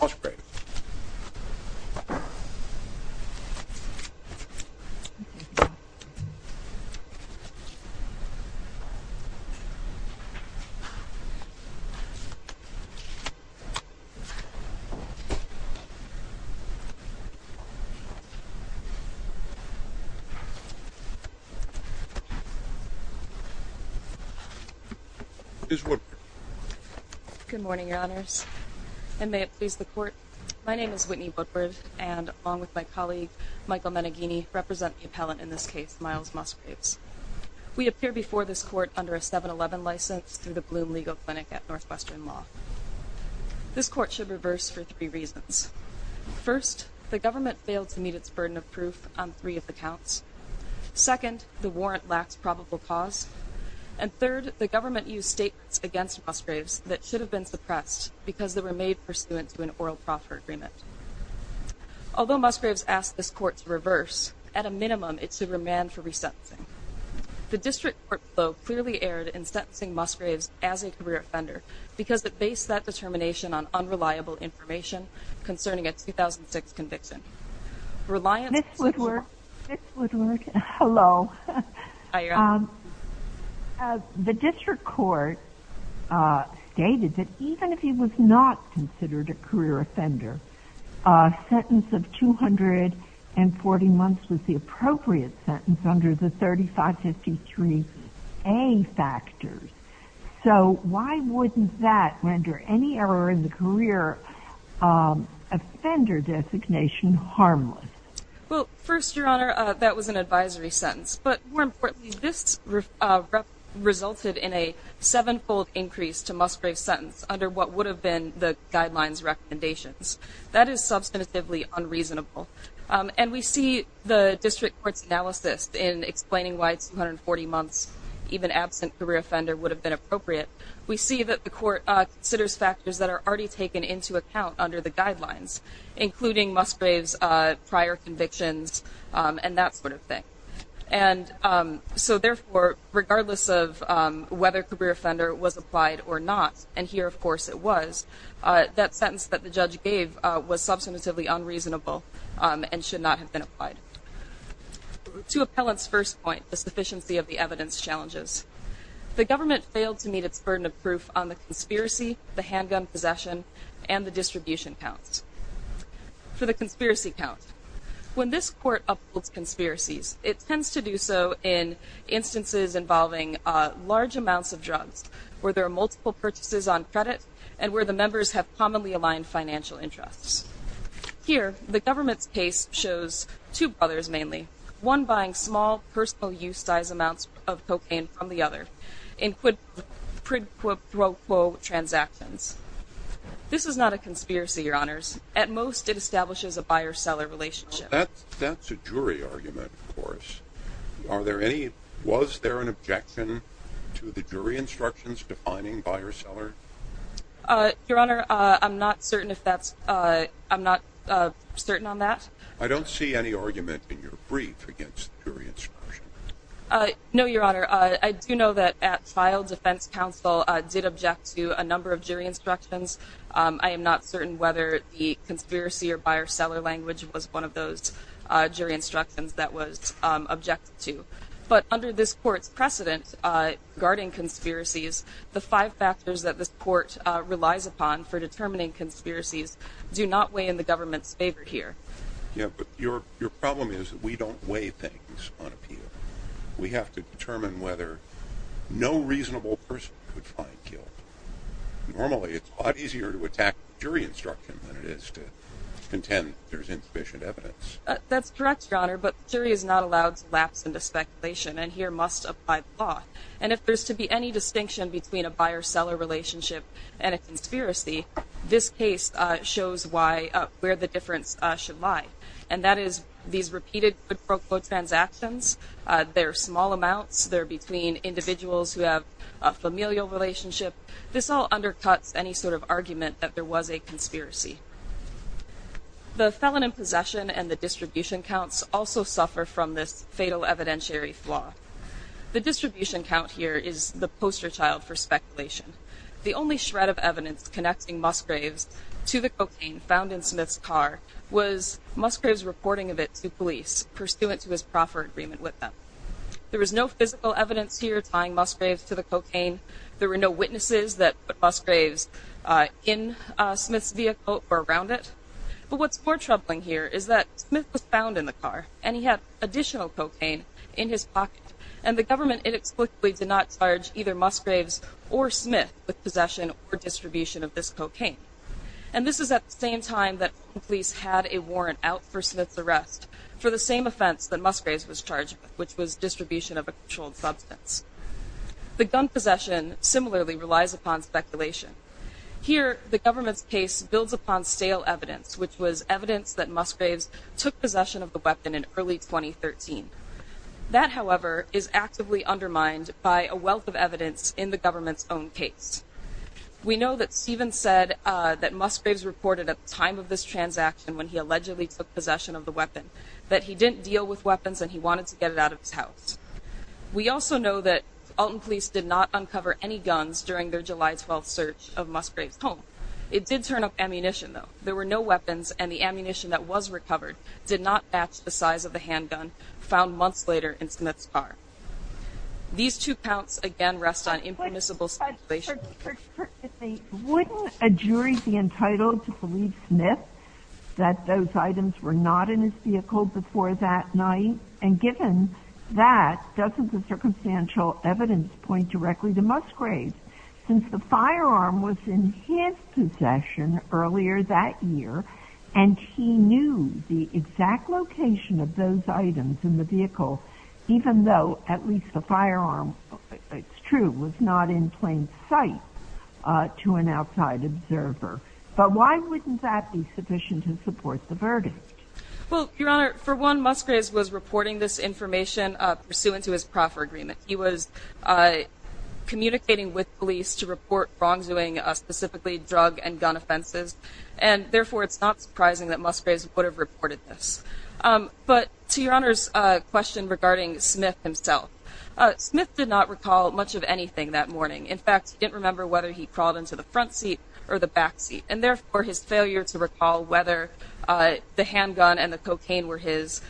Osprey. Is what? Good morning, your honors. And may it please the court. My name is Whitney Woodward and along with my colleague Michael Meneghini represent the appellant in this case, Miles Musgraves. We appear before this court under a 7-11 license through the Bloom Legal Clinic at Northwestern Law. This court should reverse for three reasons. First, the government failed to meet its burden of proof on three of the counts. Second, the warrant lacks probable cause. And third, the government used statements against Musgraves that should have been suppressed because they were made pursuant to an oral proffer agreement. Although Musgraves asked this court to reverse, at a minimum, it should remand for resentencing. The district court, though, clearly erred in sentencing Musgraves as a career offender because it based that determination on unreliable information concerning a 2006 conviction. Reliance... Ms. Woodward. Ms. Woodward, hello. Hi, Your Honor. The district court stated that even if he was not considered a career offender, a sentence of 240 months was the appropriate sentence under the 3553A factors. So why wouldn't that render any error in the career offender designation harmless? Well, first, Your Honor, that was an advisory sentence. But more importantly, this resulted in a sevenfold increase to Musgraves' sentence under what would have been the guidelines recommendations. That is substantively unreasonable. And we see the district court's analysis in explaining why it's 140 months, even absent career offender, would have been appropriate. We see that the court considers factors that are already taken into account under the guidelines, including Musgraves' prior convictions and that sort of thing. And so therefore, regardless of whether career offender was applied or not, and here, of course, it was, that sentence that the judge gave was substantively unreasonable and should not have been applied. To appellant's first point, the sufficiency of the evidence challenges. The government failed to meet its burden of proof on the conspiracy, the handgun possession, and the distribution counts. For the conspiracy count, when this court upholds conspiracies, it tends to do so in instances involving large amounts of drugs, where there are multiple purchases on credit, and where the members have commonly aligned financial interests. Here, the government's case shows two brothers mainly, one buying small personal use size amounts of cocaine from the other, in quid pro quo transactions. This is not a conspiracy, your honors. At most, it establishes a buyer-seller relationship. That's a jury argument, of course. Are there any, was there an objection to the jury instructions defining buyer-seller? Your honor, I'm not certain if that's, I'm not certain on that. I don't see any argument in your brief against jury instruction. No, your honor. I do know that at trial, defense counsel did object to a number of jury instructions. I am not certain whether the conspiracy or buyer-seller language was one of those jury instructions that was objected to, but under this court's precedent guarding conspiracies, the five factors that this court relies upon for determining conspiracies do not weigh in the government's favor here. Yeah, but your problem is that we don't weigh things on appeal. We have to determine whether no reasonable person could find guilt. Normally, it's a lot easier to attack jury instruction than it is to contend there's insufficient evidence. That's correct, your honor. But jury is not allowed to lapse into speculation and here must apply the law. And if there's to be any distinction between a buyer-seller relationship and a conspiracy, this case shows why, where the difference should lie. And that is these repeated quote-unquote transactions. They're small amounts. They're between individuals who have a familial relationship. This all undercuts any sort of argument that there was a conspiracy. The felon in possession and the distribution counts also suffer from this fatal evidentiary flaw. The distribution count here is the poster child for speculation. The only shred of evidence connecting Musgraves to the cocaine found in Smith's car was Musgraves reporting of it to police pursuant to his proffer agreement with them. There was no physical evidence here tying Musgraves to the cocaine. There were no witnesses that put Musgraves in Smith's vehicle or around it. But what's more troubling here is that Smith was found in the car and he had additional cocaine in his pocket and the government inexplicably did not charge either Musgraves or Smith with possession or distribution of this cocaine. And this is at the same time that police had a warrant out for Smith's arrest for the same offense that Musgraves was charged with, which was distribution of a controlled substance. The gun possession similarly relies upon speculation. Here, the government's case builds upon stale evidence, which was evidence that Musgraves took possession of the weapon in early 2013. That, however, is actively undermined by a wealth of evidence in the government's own case. We know that Stephen said that Musgraves reported at the time of this transaction when he allegedly took possession of the weapon that he didn't deal with weapons and he wanted to get it out of his house. We also know that Alton Police did not uncover any guns during their July 12th search of Musgraves' home. It did turn up ammunition, though. There were no weapons and the ammunition that was recovered did not match the size of the handgun found months later in Smith's car. These two counts again rest on impermissible speculation. Wouldn't a jury be entitled to believe Smith that those items were not in his vehicle before that night? And given that, doesn't the circumstantial evidence point directly to Musgraves? Since the firearm was in his possession earlier that year and he knew the exact location of those items in the vehicle, even though at least the firearm, it's true, was not in plain sight to an outside observer. But why wouldn't that be sufficient to support the verdict? Well, Your Honor, for one, Musgraves was reporting this information pursuant to his proffer agreement. He was communicating with police to report wrongdoing, specifically drug and gun offenses. And therefore, it's not surprising that Musgraves would have reported this. But to Your Honor's question regarding Smith himself, Smith did not recall much of anything that morning. In fact, he didn't remember whether he crawled into the front seat or the back seat and therefore his failure to recall whether the handgun and the cocaine were his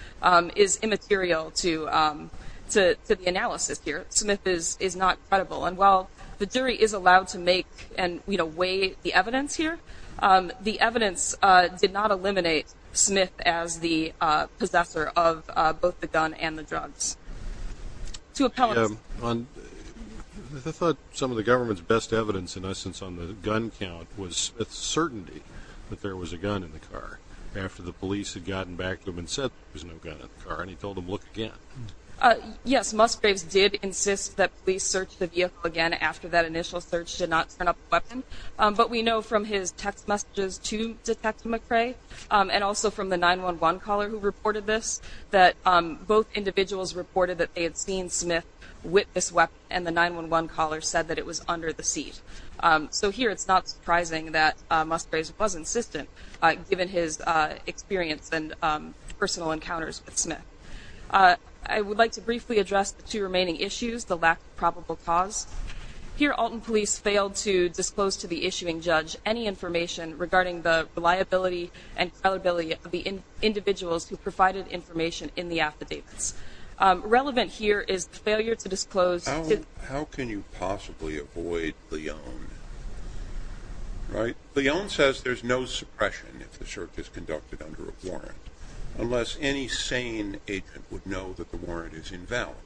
is immaterial to the analysis here. Smith is not credible. And while the jury is allowed to make and weigh the evidence here, the evidence did not eliminate Smith as the possessor of both the gun and the drugs. I thought some of the government's best evidence, in essence, on the gun count was Smith's certainty that there was a gun in the car after the police had gotten back to him and said there was no gun in the car. And he told him, look again. Yes, Musgraves did insist that police search the vehicle again after that initial search did not turn up a weapon. But we know from his text messages to Detective McRae and also from the 911 caller who reported this that both individuals reported that they had seen Smith with this weapon and the 911 caller said that it was under the seat. So here it's not surprising that Musgraves was insistent given his experience and personal encounters with Smith. I would like to briefly address the two remaining issues, the lack of probable cause. Here Alton Police failed to disclose to the issuing judge any information regarding the reliability and credibility of the individuals who provided information in the affidavits. Relevant here is the failure to disclose. How can you possibly avoid Leon? Right? Leon says there's no suppression if the search is conducted under a warrant unless any sane agent would know that the warrant is invalid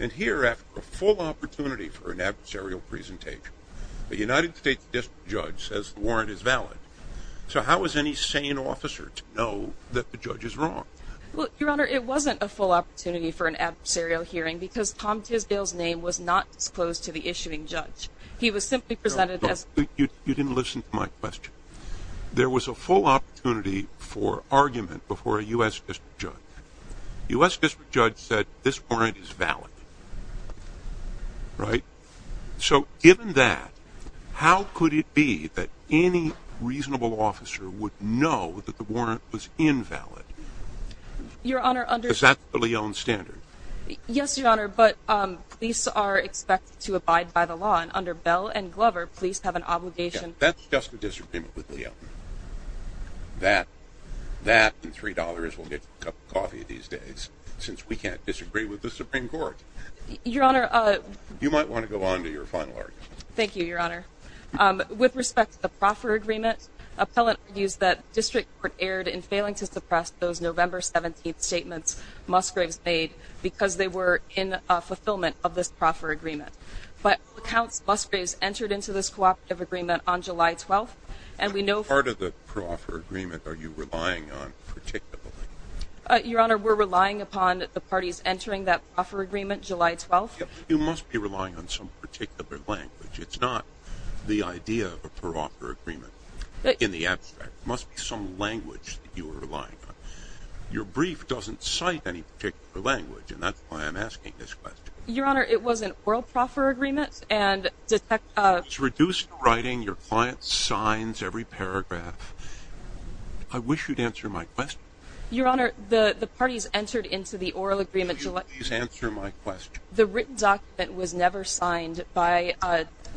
and here after a full opportunity for an adversarial presentation, the United States District Judge says the warrant is valid. So how is any sane officer to know that the judge is wrong? Well, Your Honor, it wasn't a full opportunity for an adversarial hearing because Tom Tisdale's name was not disclosed to the issuing judge. He was simply presented as... You didn't listen to my question. There was a full opportunity for argument before a U.S. District Judge. U.S. District Judge said this warrant is valid. Right? So given that, how could it be that any reasonable officer would know that the warrant was invalid? Your Honor, under... Is that the Leon standard? Yes, Your Honor, but police are expected to abide by the law and under Bell and Glover, police have an obligation... That's just a disagreement with Leon. That and three dollars will get you a cup of coffee these days since we can't disagree with the Supreme Court. Your Honor... You might want to go on to your final argument. Thank you, Your Honor. With respect to the proffer agreement, appellant argues that District Court erred in failing to suppress those November 17th statements Musgraves made because they were in a fulfillment of this proffer agreement. But all accounts Musgraves entered into this cooperative agreement on July 12th, and we know... What part of the proffer agreement are you relying on particularly? Your Honor, we're relying upon the parties entering that proffer agreement July 12th. You must be relying on some particular language. It's not the idea of a proffer agreement. In the abstract, must be some language that you are relying on. Your brief doesn't cite any particular language, and that's why I'm asking this question. Your Honor, it was an oral proffer agreement and detect... It was reduced to writing your client's signs, every paragraph. I wish you'd answer my question. Your Honor, the parties entered into the oral agreement... Would you please answer my question? The written document was never signed by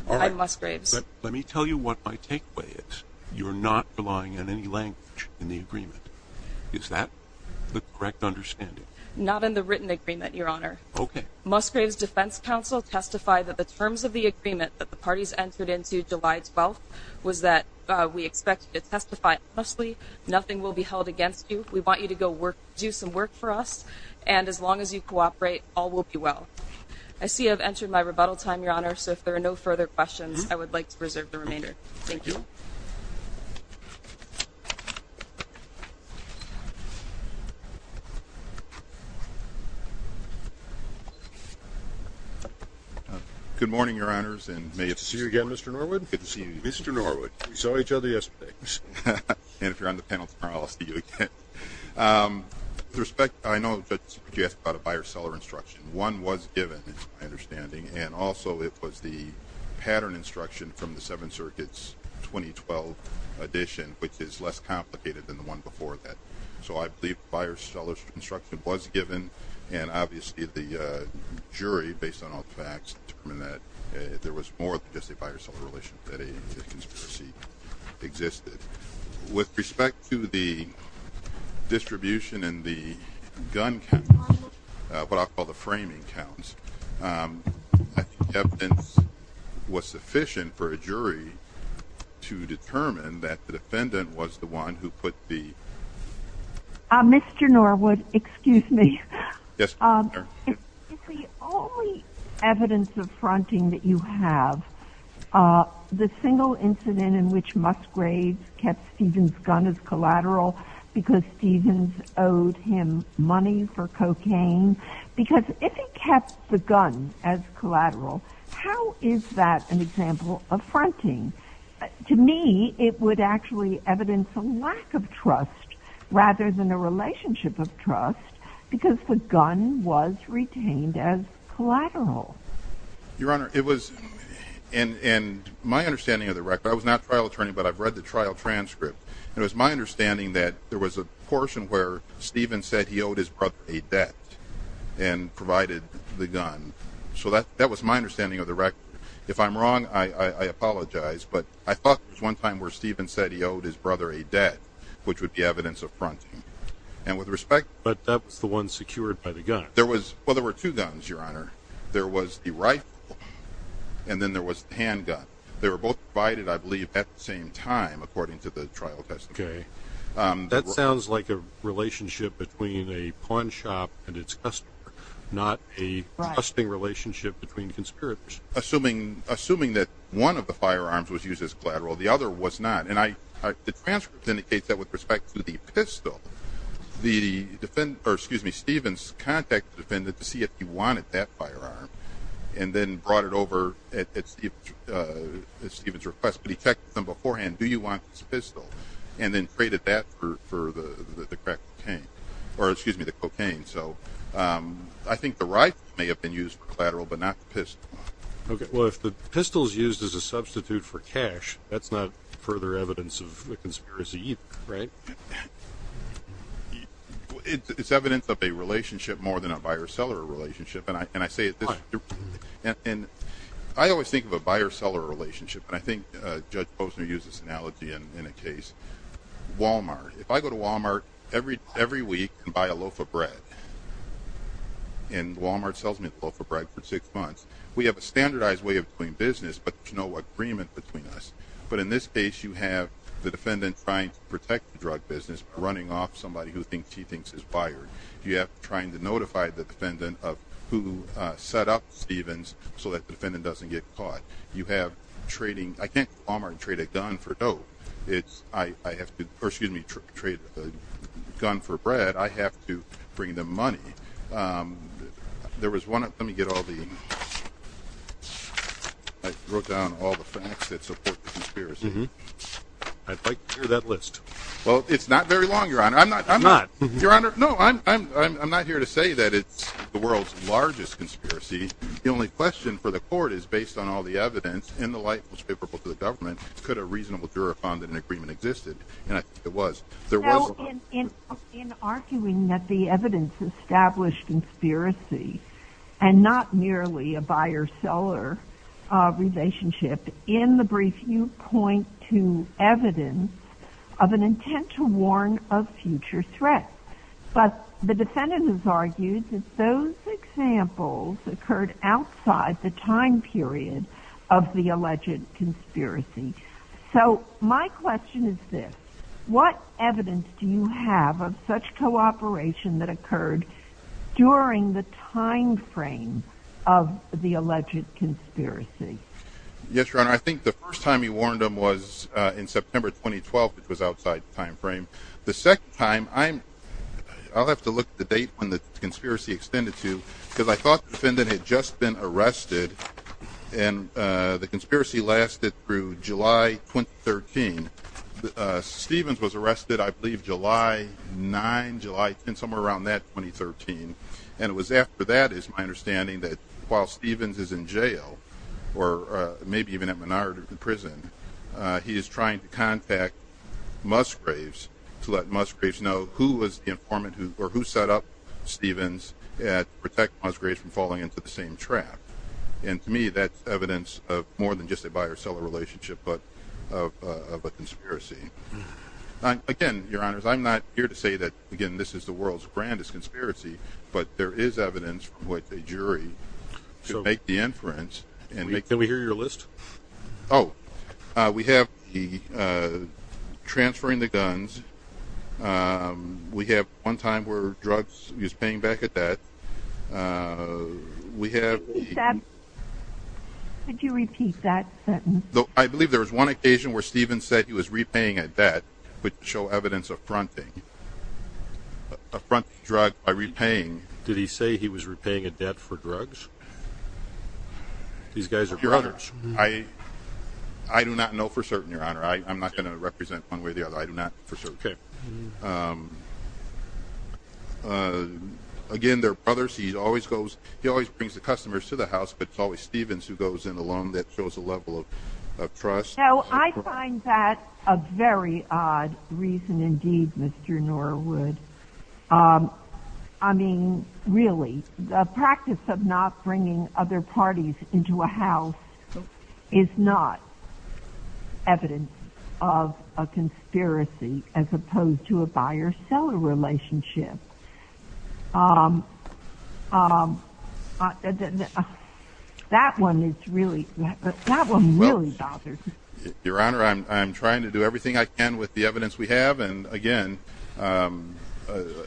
Musgraves. Let me tell you what my takeaway is. You're not relying on any language in the agreement. Is that the correct understanding? Not in the written agreement, Your Honor. Okay. Musgraves Defense Council testified that the terms of the agreement that the parties entered into July 12th was that we expect you to testify honestly. Nothing will be held against you. We want you to go work, do some work for us. And as long as you cooperate, all will be well. I see I've entered my rebuttal time, Your Honor. So if there are no further questions, I would like to reserve the remainder. Thank you. Good morning, Your Honors, and may it be... Good to see you again, Mr. Norwood. Good to see you. Mr. Norwood, we saw each other yesterday. And if you're on the panel tomorrow, I'll see you again. With respect, I know that you asked about a buyer-seller instruction. One was given, it's my understanding, and also it was the pattern instruction from the Seven Circuits 2012 edition, which is less complicated than the one before that. So I believe buyer-seller instruction was given, and obviously the jury, based on all the facts, determined that there was more than just a buyer-seller relation, that a conspiracy existed. With respect to the distribution and the gun counts, what I'll call the framing counts, I think evidence was sufficient for a jury to determine that the defendant was the one who put the... Mr. Norwood, excuse me. Yes, ma'am. Is the only evidence of fronting that you have the single incident in which Musgraves kept Stevens' gun as collateral because Stevens owed him money for cocaine? Because if he kept the gun as collateral, how is that an example of fronting? To me, it would actually evidence a lack of trust rather than a relationship of trust because the gun was retained as collateral. Your Honor, it was, and my understanding of the record, I was not trial attorney, but I've read the trial transcript, and it was my understanding that there was a portion where Stevens said he owed his brother a debt and provided the gun. So that was my understanding of the record. If I'm wrong, I apologize, but I thought there was one time where Stevens said he owed his brother a debt, which would be evidence of fronting. And with respect... But that was the one secured by the gun. There was, well, there were two guns, Your Honor. There was the rifle, and then there was the handgun. They were both provided, I believe, at the same time, according to the trial testimony. Okay, that sounds like a relationship between a pawn shop and its customer, not a trusting relationship between conspirators. Assuming that one of the firearms was used as collateral, the other was not. And the transcript indicates that with respect to the pistol, the defendant, or excuse me, Stevens contacted the defendant to see if he wanted that firearm, and then brought it over at Stevens' request, but he checked them beforehand. Do you want this pistol? And then traded that for the crack cocaine, or excuse me, the cocaine. So I think the rifle may have been used for collateral, but not the pistol. Okay, well, if the pistol is used as a substitute for cash, that's not further evidence of the conspiracy either, right? It's evidence of a relationship more than a buyer-seller relationship, and I say it this way. And I always think of a buyer-seller relationship, and I think Judge Posner used this analogy in a case. Walmart. If I go to Walmart every week and buy a loaf of bread, and Walmart sells me a loaf of bread for six months, we have a standardized way of doing business, but there's no agreement between us. But in this case, you have the defendant trying to protect the drug business by running off somebody who thinks he thinks is a buyer. You have trying to notify the defendant of who set up Stevens so that the defendant doesn't get caught. You have trading. I can't go to Walmart and trade a gun for dough. I have to, or excuse me, trade a gun for bread. I have to bring them money. There was one, let me get all the, I wrote down all the facts that support the conspiracy. I'd like to hear that list. Well, it's not very long, Your Honor. I'm not, I'm not. Your Honor, no, I'm not here to say that it's the world's largest conspiracy. The only question for the court is based on all the evidence, and the light was favorable to the government, could a reasonable juror have found that an agreement existed? And I think it was. There was. In arguing that the evidence established conspiracy and not merely a buyer-seller relationship in the brief, you point to evidence of an intent to warn of future threats. But the defendant has argued that those examples occurred outside the time period of the alleged conspiracy. So my question is this, what evidence do you have of such cooperation that was outside the time frame of the alleged conspiracy? Yes, Your Honor, I think the first time he warned him was in September 2012, which was outside the time frame. The second time, I'm, I'll have to look at the date when the conspiracy extended to, because I thought the defendant had just been arrested, and the conspiracy lasted through July 2013. Stevens was arrested, I believe, July 9, July 10, somewhere around that 2013. And it was after that is my understanding that while Stevens is in jail, or maybe even at minority prison, he is trying to contact Musgraves to let Musgraves know who was the informant who, or who set up Stevens to protect Musgraves from falling into the same trap. And to me, that's evidence of more than just a buyer-seller relationship, but of a conspiracy. Again, Your Honors, I'm not here to say that, again, this is the world's grandest conspiracy, but there is evidence from what the jury can make the inference. Can we hear your list? Oh, we have the transferring the guns. We have one time where drugs, he was paying back a debt. We have... Could you repeat that sentence? I believe there was one occasion where Stevens said he was repaying a debt, but show evidence of fronting. A fronting drug by repaying... Did he say he was repaying a debt for drugs? These guys are brothers. I do not know for certain, Your Honor. I'm not going to represent one way or the other. I do not for certain. Okay. Again, they're brothers. He always goes, he always brings the customers to the house, but it's always Stevens who goes in alone that shows a level of trust. Now, I find that a very odd reason indeed, Mr. Norwood. I mean, really, the practice of not bringing other parties into a house is not evidence of a conspiracy as opposed to a buy or sell relationship. That one is really, that one really bothers me. Your Honor, I'm trying to do everything I can with the evidence we have, and again... We're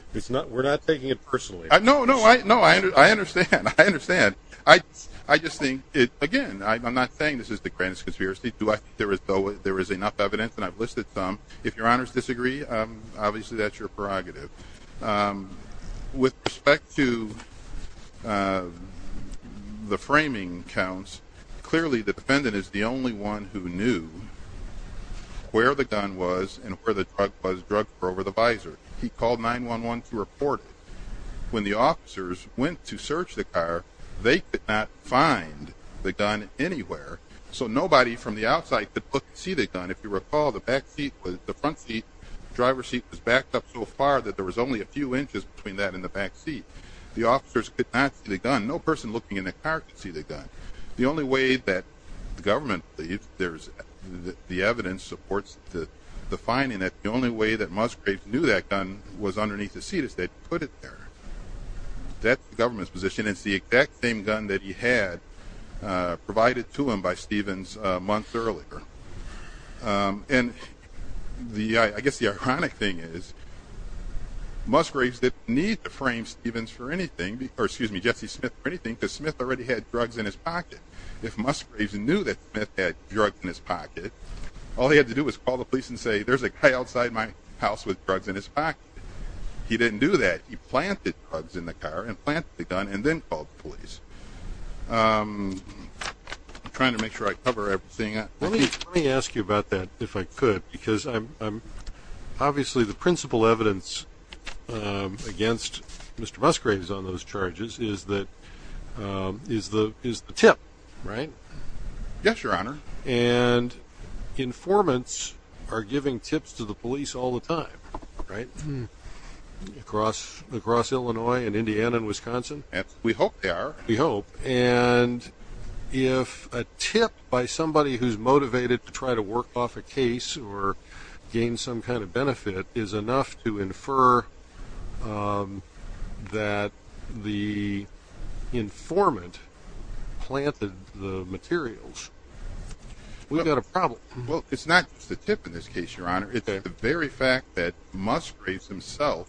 not taking it personally. No, no, I understand. I understand. I just think, again, I'm not saying this is the grandest conspiracy. There is enough evidence, and I've listed some. If Your Honor's disagree, obviously, that's your prerogative. With respect to the framing counts, clearly, the defendant is the only one who knew where the gun was and where the drug was drugged over the visor. He called 911 to report it. When the officers went to search the car, they could not find the gun anywhere. So nobody from the outside could look and see the gun. If you recall, the back seat, the front seat, driver's seat was backed up so far that there was only a few inches between that and the back seat. The officers could not see the gun. No person looking in the car could see the gun. The only way that the government, the evidence supports the finding that the only way that Musgraves knew that gun was underneath the seat is they put it there. That's the government's position. It's the exact same gun that he had provided to him by Stevens a month earlier. And I guess the ironic thing is, Musgraves didn't need to frame Stevens for anything, or excuse me, Jesse Smith for anything, because Smith already had drugs in his pocket. If Musgraves knew that Smith had drugs in his pocket, all he had to do was call the police and say, there's a guy outside my house with drugs in his pocket. He didn't do that. He planted drugs in the car and planted the gun and then called the police. I'm trying to make sure I cover everything. Let me ask you about that, if I could, because obviously the principal evidence against Mr. Musgraves on those charges is the tip, right? Yes, your honor. And informants are giving tips to the police all the time, right? Across Illinois and Indiana and Wisconsin. We hope they are. We hope. And if a tip by somebody who's motivated to try to work off a case or gain some kind of benefit is enough to infer that the informant planted the materials, we've got a problem. Well, it's not just a tip in this case, your honor. It's the very fact that Musgraves himself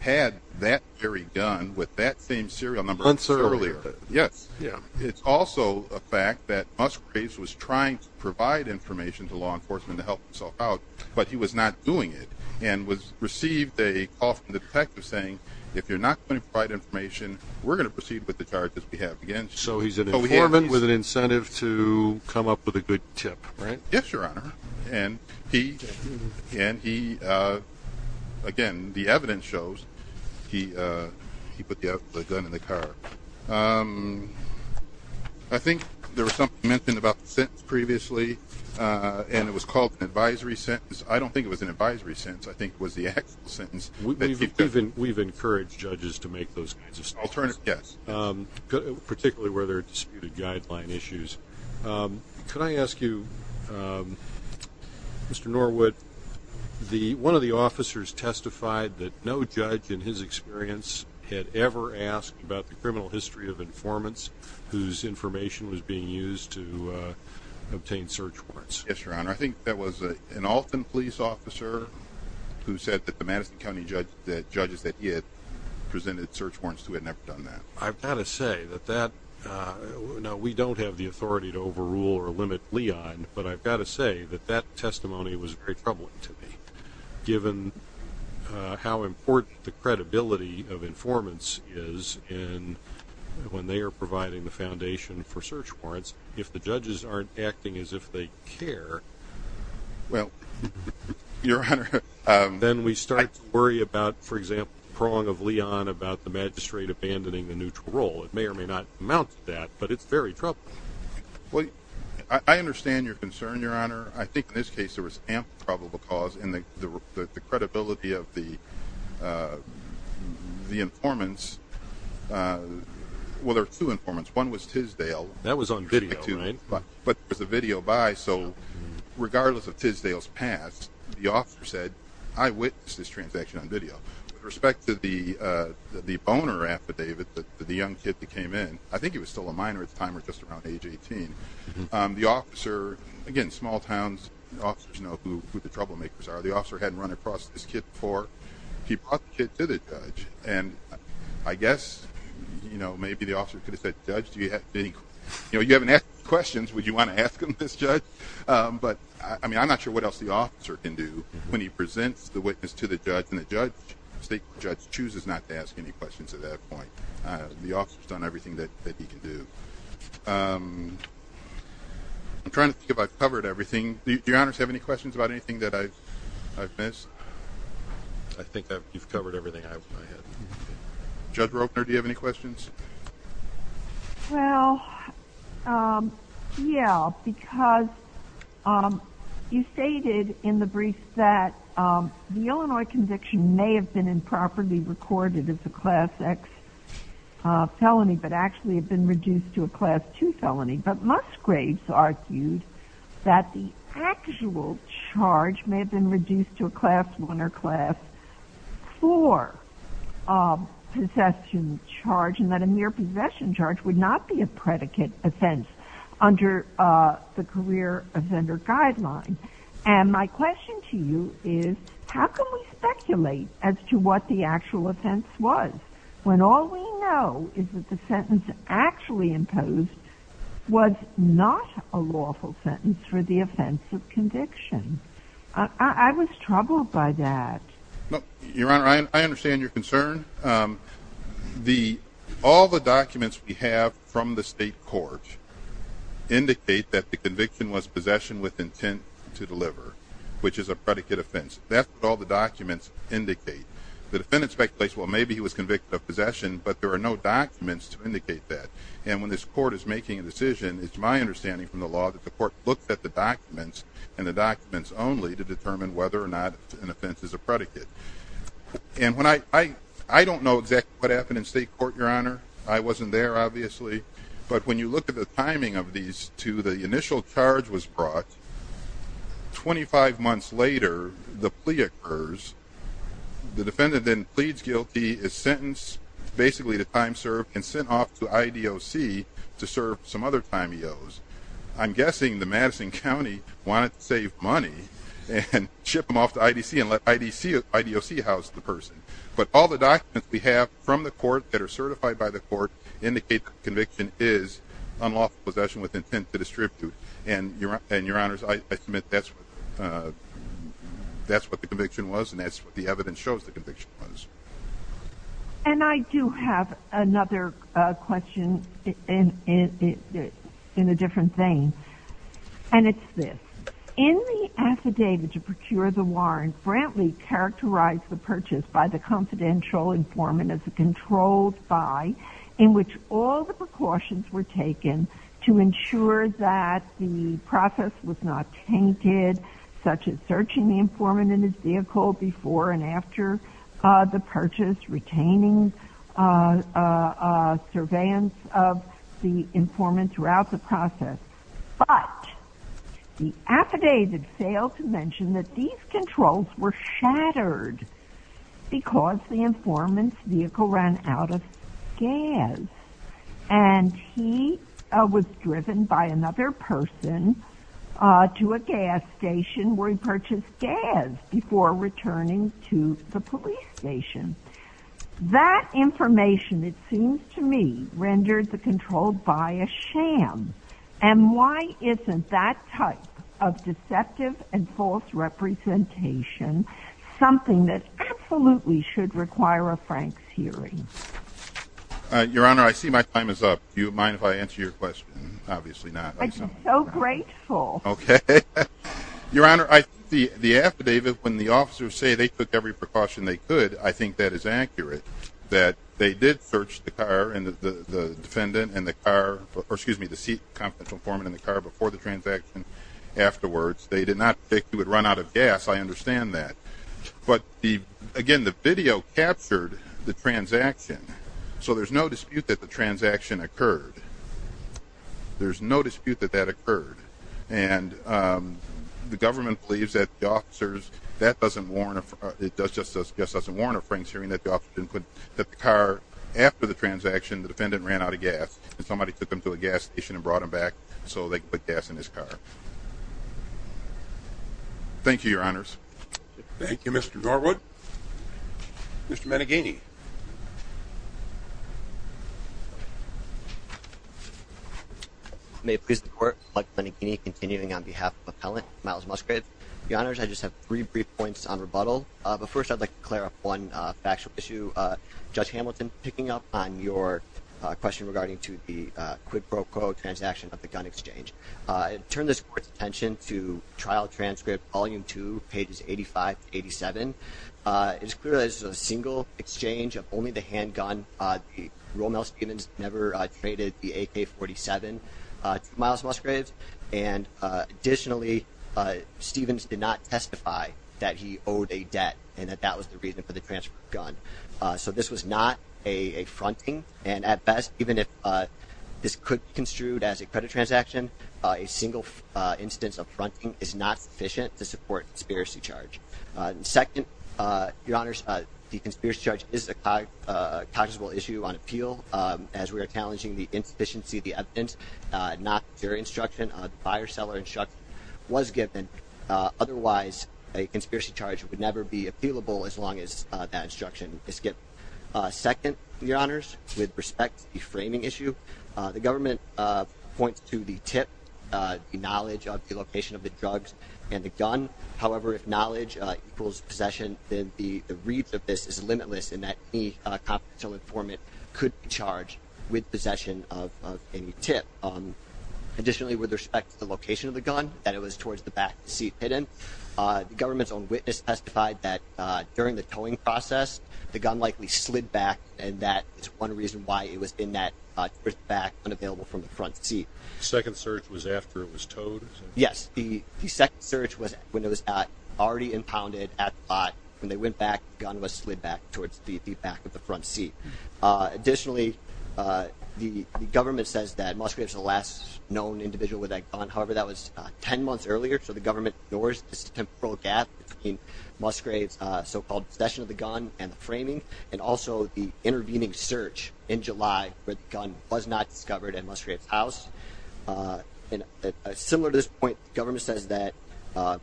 had that very gun with that same serial number earlier. Yes. Yeah. It's also a fact that Musgraves was trying to provide information to law enforcement to help himself out, but he was not doing it and was received a call from the detective saying, if you're not going to provide information, we're going to proceed with the charges we have against you. So he's an informant with an incentive to come up with a good tip, right? Yes, your honor. And he again, the evidence shows he put the gun in the car. I think there was something mentioned about the sentence previously, and it was called an advisory sentence. I don't think it was an advisory sentence. I think it was the actual sentence. We've encouraged judges to make those kinds of statements. Alternative, yes. Particularly where there are disputed guideline issues. Could I ask you, Mr. Norwood, one of the officers testified that no judge in his experience had ever asked about the criminal history of informants whose information was being used to obtain search warrants. Yes, your honor. I think that was an Alton police officer who said that the Madison County judges that he had presented search warrants who had never done that. I've got to say that that we don't have the authority to overrule or limit Leon, but I've got to say that that testimony was very troubling to me given how important the credibility of informants is in when they are providing the foundation for search warrants. If the judges aren't acting as if they care, well, your honor, then we start to worry about, for the magistrate, abandoning the neutral role. It may or may not amount to that, but it's very troubling. Well, I understand your concern, your honor. I think in this case there was ample probable cause in the credibility of the the informants. Well, there are two informants. One was Tisdale. That was on video, right? But there's a video by, so regardless of Tisdale's past, the officer said, I witnessed this transaction on video. With respect to the the boner affidavit that the young kid that came in, I think he was still a minor at the time or just around age 18. The officer, again, small towns, officers know who the troublemakers are. The officer hadn't run across this kid before. He brought the kid to the judge and I guess, you know, maybe the officer could have said, judge, do you have any, you know, you haven't asked questions. Would you want to ask him, this judge? But I mean, I'm not sure what else the officer can do when he presents the judge and the judge, state judge chooses not to ask any questions at that point. The officer's done everything that he can do. I'm trying to think if I've covered everything. Do your honors have any questions about anything that I've missed? I think that you've covered everything I have. Judge Ropner, do you have any questions? Well, yeah, because you stated in the brief that the Illinois conviction may have been improperly recorded as a class X felony, but actually have been reduced to a class 2 felony. But Musgraves argued that the actual charge may have been reduced to a class 1 or class 4 possession charge and that a mere possession charge would not be a predicate offense under the career offender guideline. And my question to you is, how can we speculate as to what the actual offense was when all we know is that the sentence actually imposed was not a lawful sentence for the offense of conviction? I was troubled by that. Your honor, I understand your concern. All the documents we have from the state court indicate that the conviction was possession with intent to deliver, which is a predicate offense. That's what all the documents indicate. The defendant speculates, well, maybe he was convicted of possession, but there are no documents to indicate that. And when this court is making a decision, it's my understanding from the law that the court looks at the documents and the documents only to determine whether or not an offense is a predicate. And when I don't know exactly what happened in state court, your honor, I wasn't there obviously. But when you look at the timing of these two, the initial charge was brought. Twenty five months later, the plea occurs. The defendant then pleads guilty, is sentenced basically to time served and sent off to IDOC to serve some other time he owes. I'm guessing the Madison County wanted to save money and ship them off to IDC and let IDOC house the person. But all the documents we have from the court that are certified by the court indicate conviction is unlawful possession with intent to distribute. And your and your honors, I submit that's what that's what the conviction was. And that's what the evidence shows the conviction was. And I do have another question in it in a different thing. And it's this in the affidavit to procure the warrant Brantley characterized the purchase by the confidential informant as a controlled by in which all the precautions were taken to ensure that the process was not tainted such as searching the informant in his vehicle before and after the purchase, retaining surveillance of the informant throughout the process. But the affidavit failed to mention that these controls were shattered because the informant's vehicle ran out of gas and he was driven by another person to a gas station where he purchased gas before returning to the police station that information. It seems to me rendered the control by a sham and why isn't that type of deceptive and false representation something that absolutely should require a Frank's hearing your honor. I see my time is up. You mind if I answer your question? Obviously not. So grateful. Okay, your honor. I see the affidavit when the officers say they took every precaution they could. I think that is accurate that they did search the car and the defendant and the car or excuse me, the seat confidential form in the car before the transaction afterwards. They did not think he would run out of gas. I understand that but the again the video captured the transaction. So there's no dispute that the transaction occurred. There's no dispute that that occurred and the government believes that the officers that doesn't warrant it does just as guess doesn't warrant a Frank's hearing that the officer input that the car after the transaction the defendant ran out of gas and somebody took him to a gas station and brought him back. So they could put gas in his car. Thank you. Your honors. Thank you. Mr. Norwood. Mr. Maneghini. May please the court. But Benigni continuing on behalf of appellant miles Musgrave the honors. I just have three brief points on rebuttal. But first I'd like to clear up one factual issue. Judge Hamilton picking up on your question regarding to the quid pro quo transaction of the gun exchange. Turn this court's attention to trial transcript volume 2 pages 85 87 is clear as a single exchange of only the handgun. The Romel Stevens never traded the AK 47 miles Musgraves. And additionally Stevens did not testify that he owed a debt and that that was the reason for the transfer of gun. So this was not a fronting and at best even if this could be construed as a credit transaction a single instance of fronting is not sufficient to support conspiracy charge. Second your honors the conspiracy charge is a high possible issue on appeal as we are challenging the insufficiency of the evidence not their instruction buyer seller instruction was given. Otherwise a conspiracy charge would never be appealable as long as that instruction is skipped. Second your honors with respect to the framing issue the government points to the tip the knowledge of the location of the drugs and the gun. However, if knowledge equals possession then the reach of this is limitless and that any confidential informant could be charged with possession of any tip. Additionally with respect to the location of the gun that it was towards the back seat hidden the government's own witness testified that during the towing process the gun likely slid back and that is one reason why it was in that back unavailable from the front seat. Second search was after it was towed. Yes, the second search was when it was at already impounded at the lot when they went back gun was slid back towards the back of the front seat. Additionally, the government says that Musgraves the last known individual with a gun. However, that was 10 months earlier. So the government ignores temporal gap in Musgraves so-called session of the gun and the framing and also the intervening search in July where the gun was not discovered at Musgraves house. Similar to this point government says that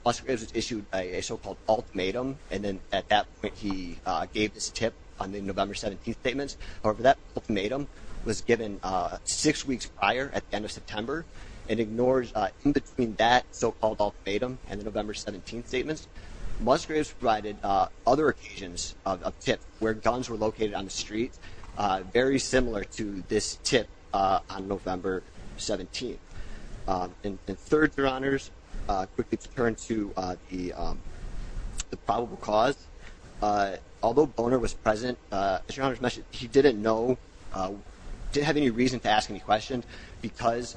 Musgraves issued a so-called ultimatum and then at that point he gave this tip on the November 17th statements. However, that ultimatum was given six weeks prior at the end of September and ignores in between that so-called ultimatum and the November 17th statements. Musgraves provided other occasions of tip where guns were located on the streets very similar to this tip on November 17th. And third, your honors quickly turn to the probable cause. Although Boner was present as your honors mentioned, he didn't know, didn't have any reason to ask any questions because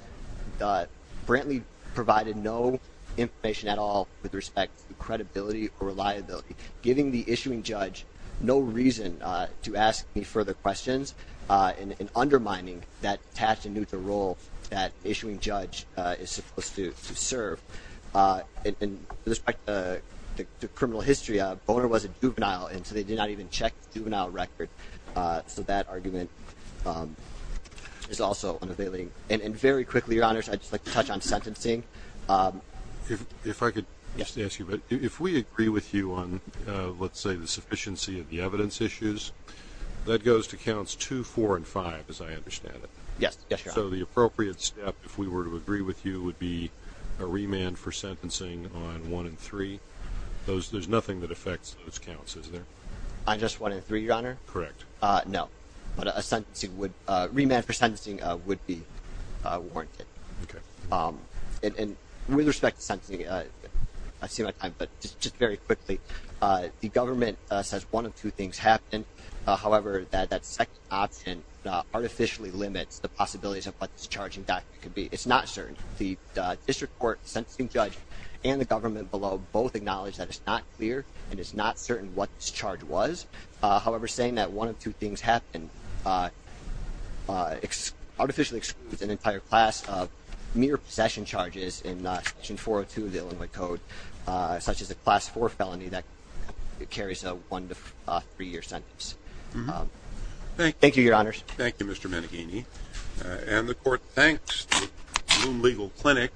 Brantley provided no information at all with respect to credibility or reliability, giving the issuing judge no reason to ask any further questions and undermining that attached and neutral role that issuing judge is supposed to serve. In respect to criminal history, Boner was a juvenile and so they did not even check the juvenile record. So that argument is also unavailing. And very quickly your honors, I'd just like to touch on sentencing. If I could just ask you, but if we agree with you on, let's say the sufficiency of the evidence issues, that goes to counts two, four and five as I understand it. Yes. So the appropriate step if we were to agree with you would be a remand for sentencing on one and three. Those, there's nothing that affects those counts, isn't there? I just wanted three, your honor. Correct. No, but a sentencing would, remand for sentencing would be warranted. Okay. And with respect to sentencing, I see my time, but just very quickly, the government says one of two things happened. However, that second option artificially limits the possibilities of what this charging document could be. It's not certain. The district court, sentencing judge and the government below both acknowledge that it's not clear and it's not certain what this charge was. However, saying that one of two things happened, artificially excludes an entire class of mere possession charges in section 402 of the Illinois code, such as a class four felony that carries a one to three year sentence. Thank you, your honors. Thank you, Mr. Maneghini. And the court thanks the Bloom Legal Clinic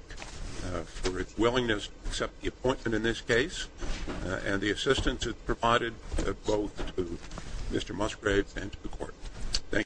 for its willingness to accept the appointment in this case and the assistance it must brave and to the court. Thank you.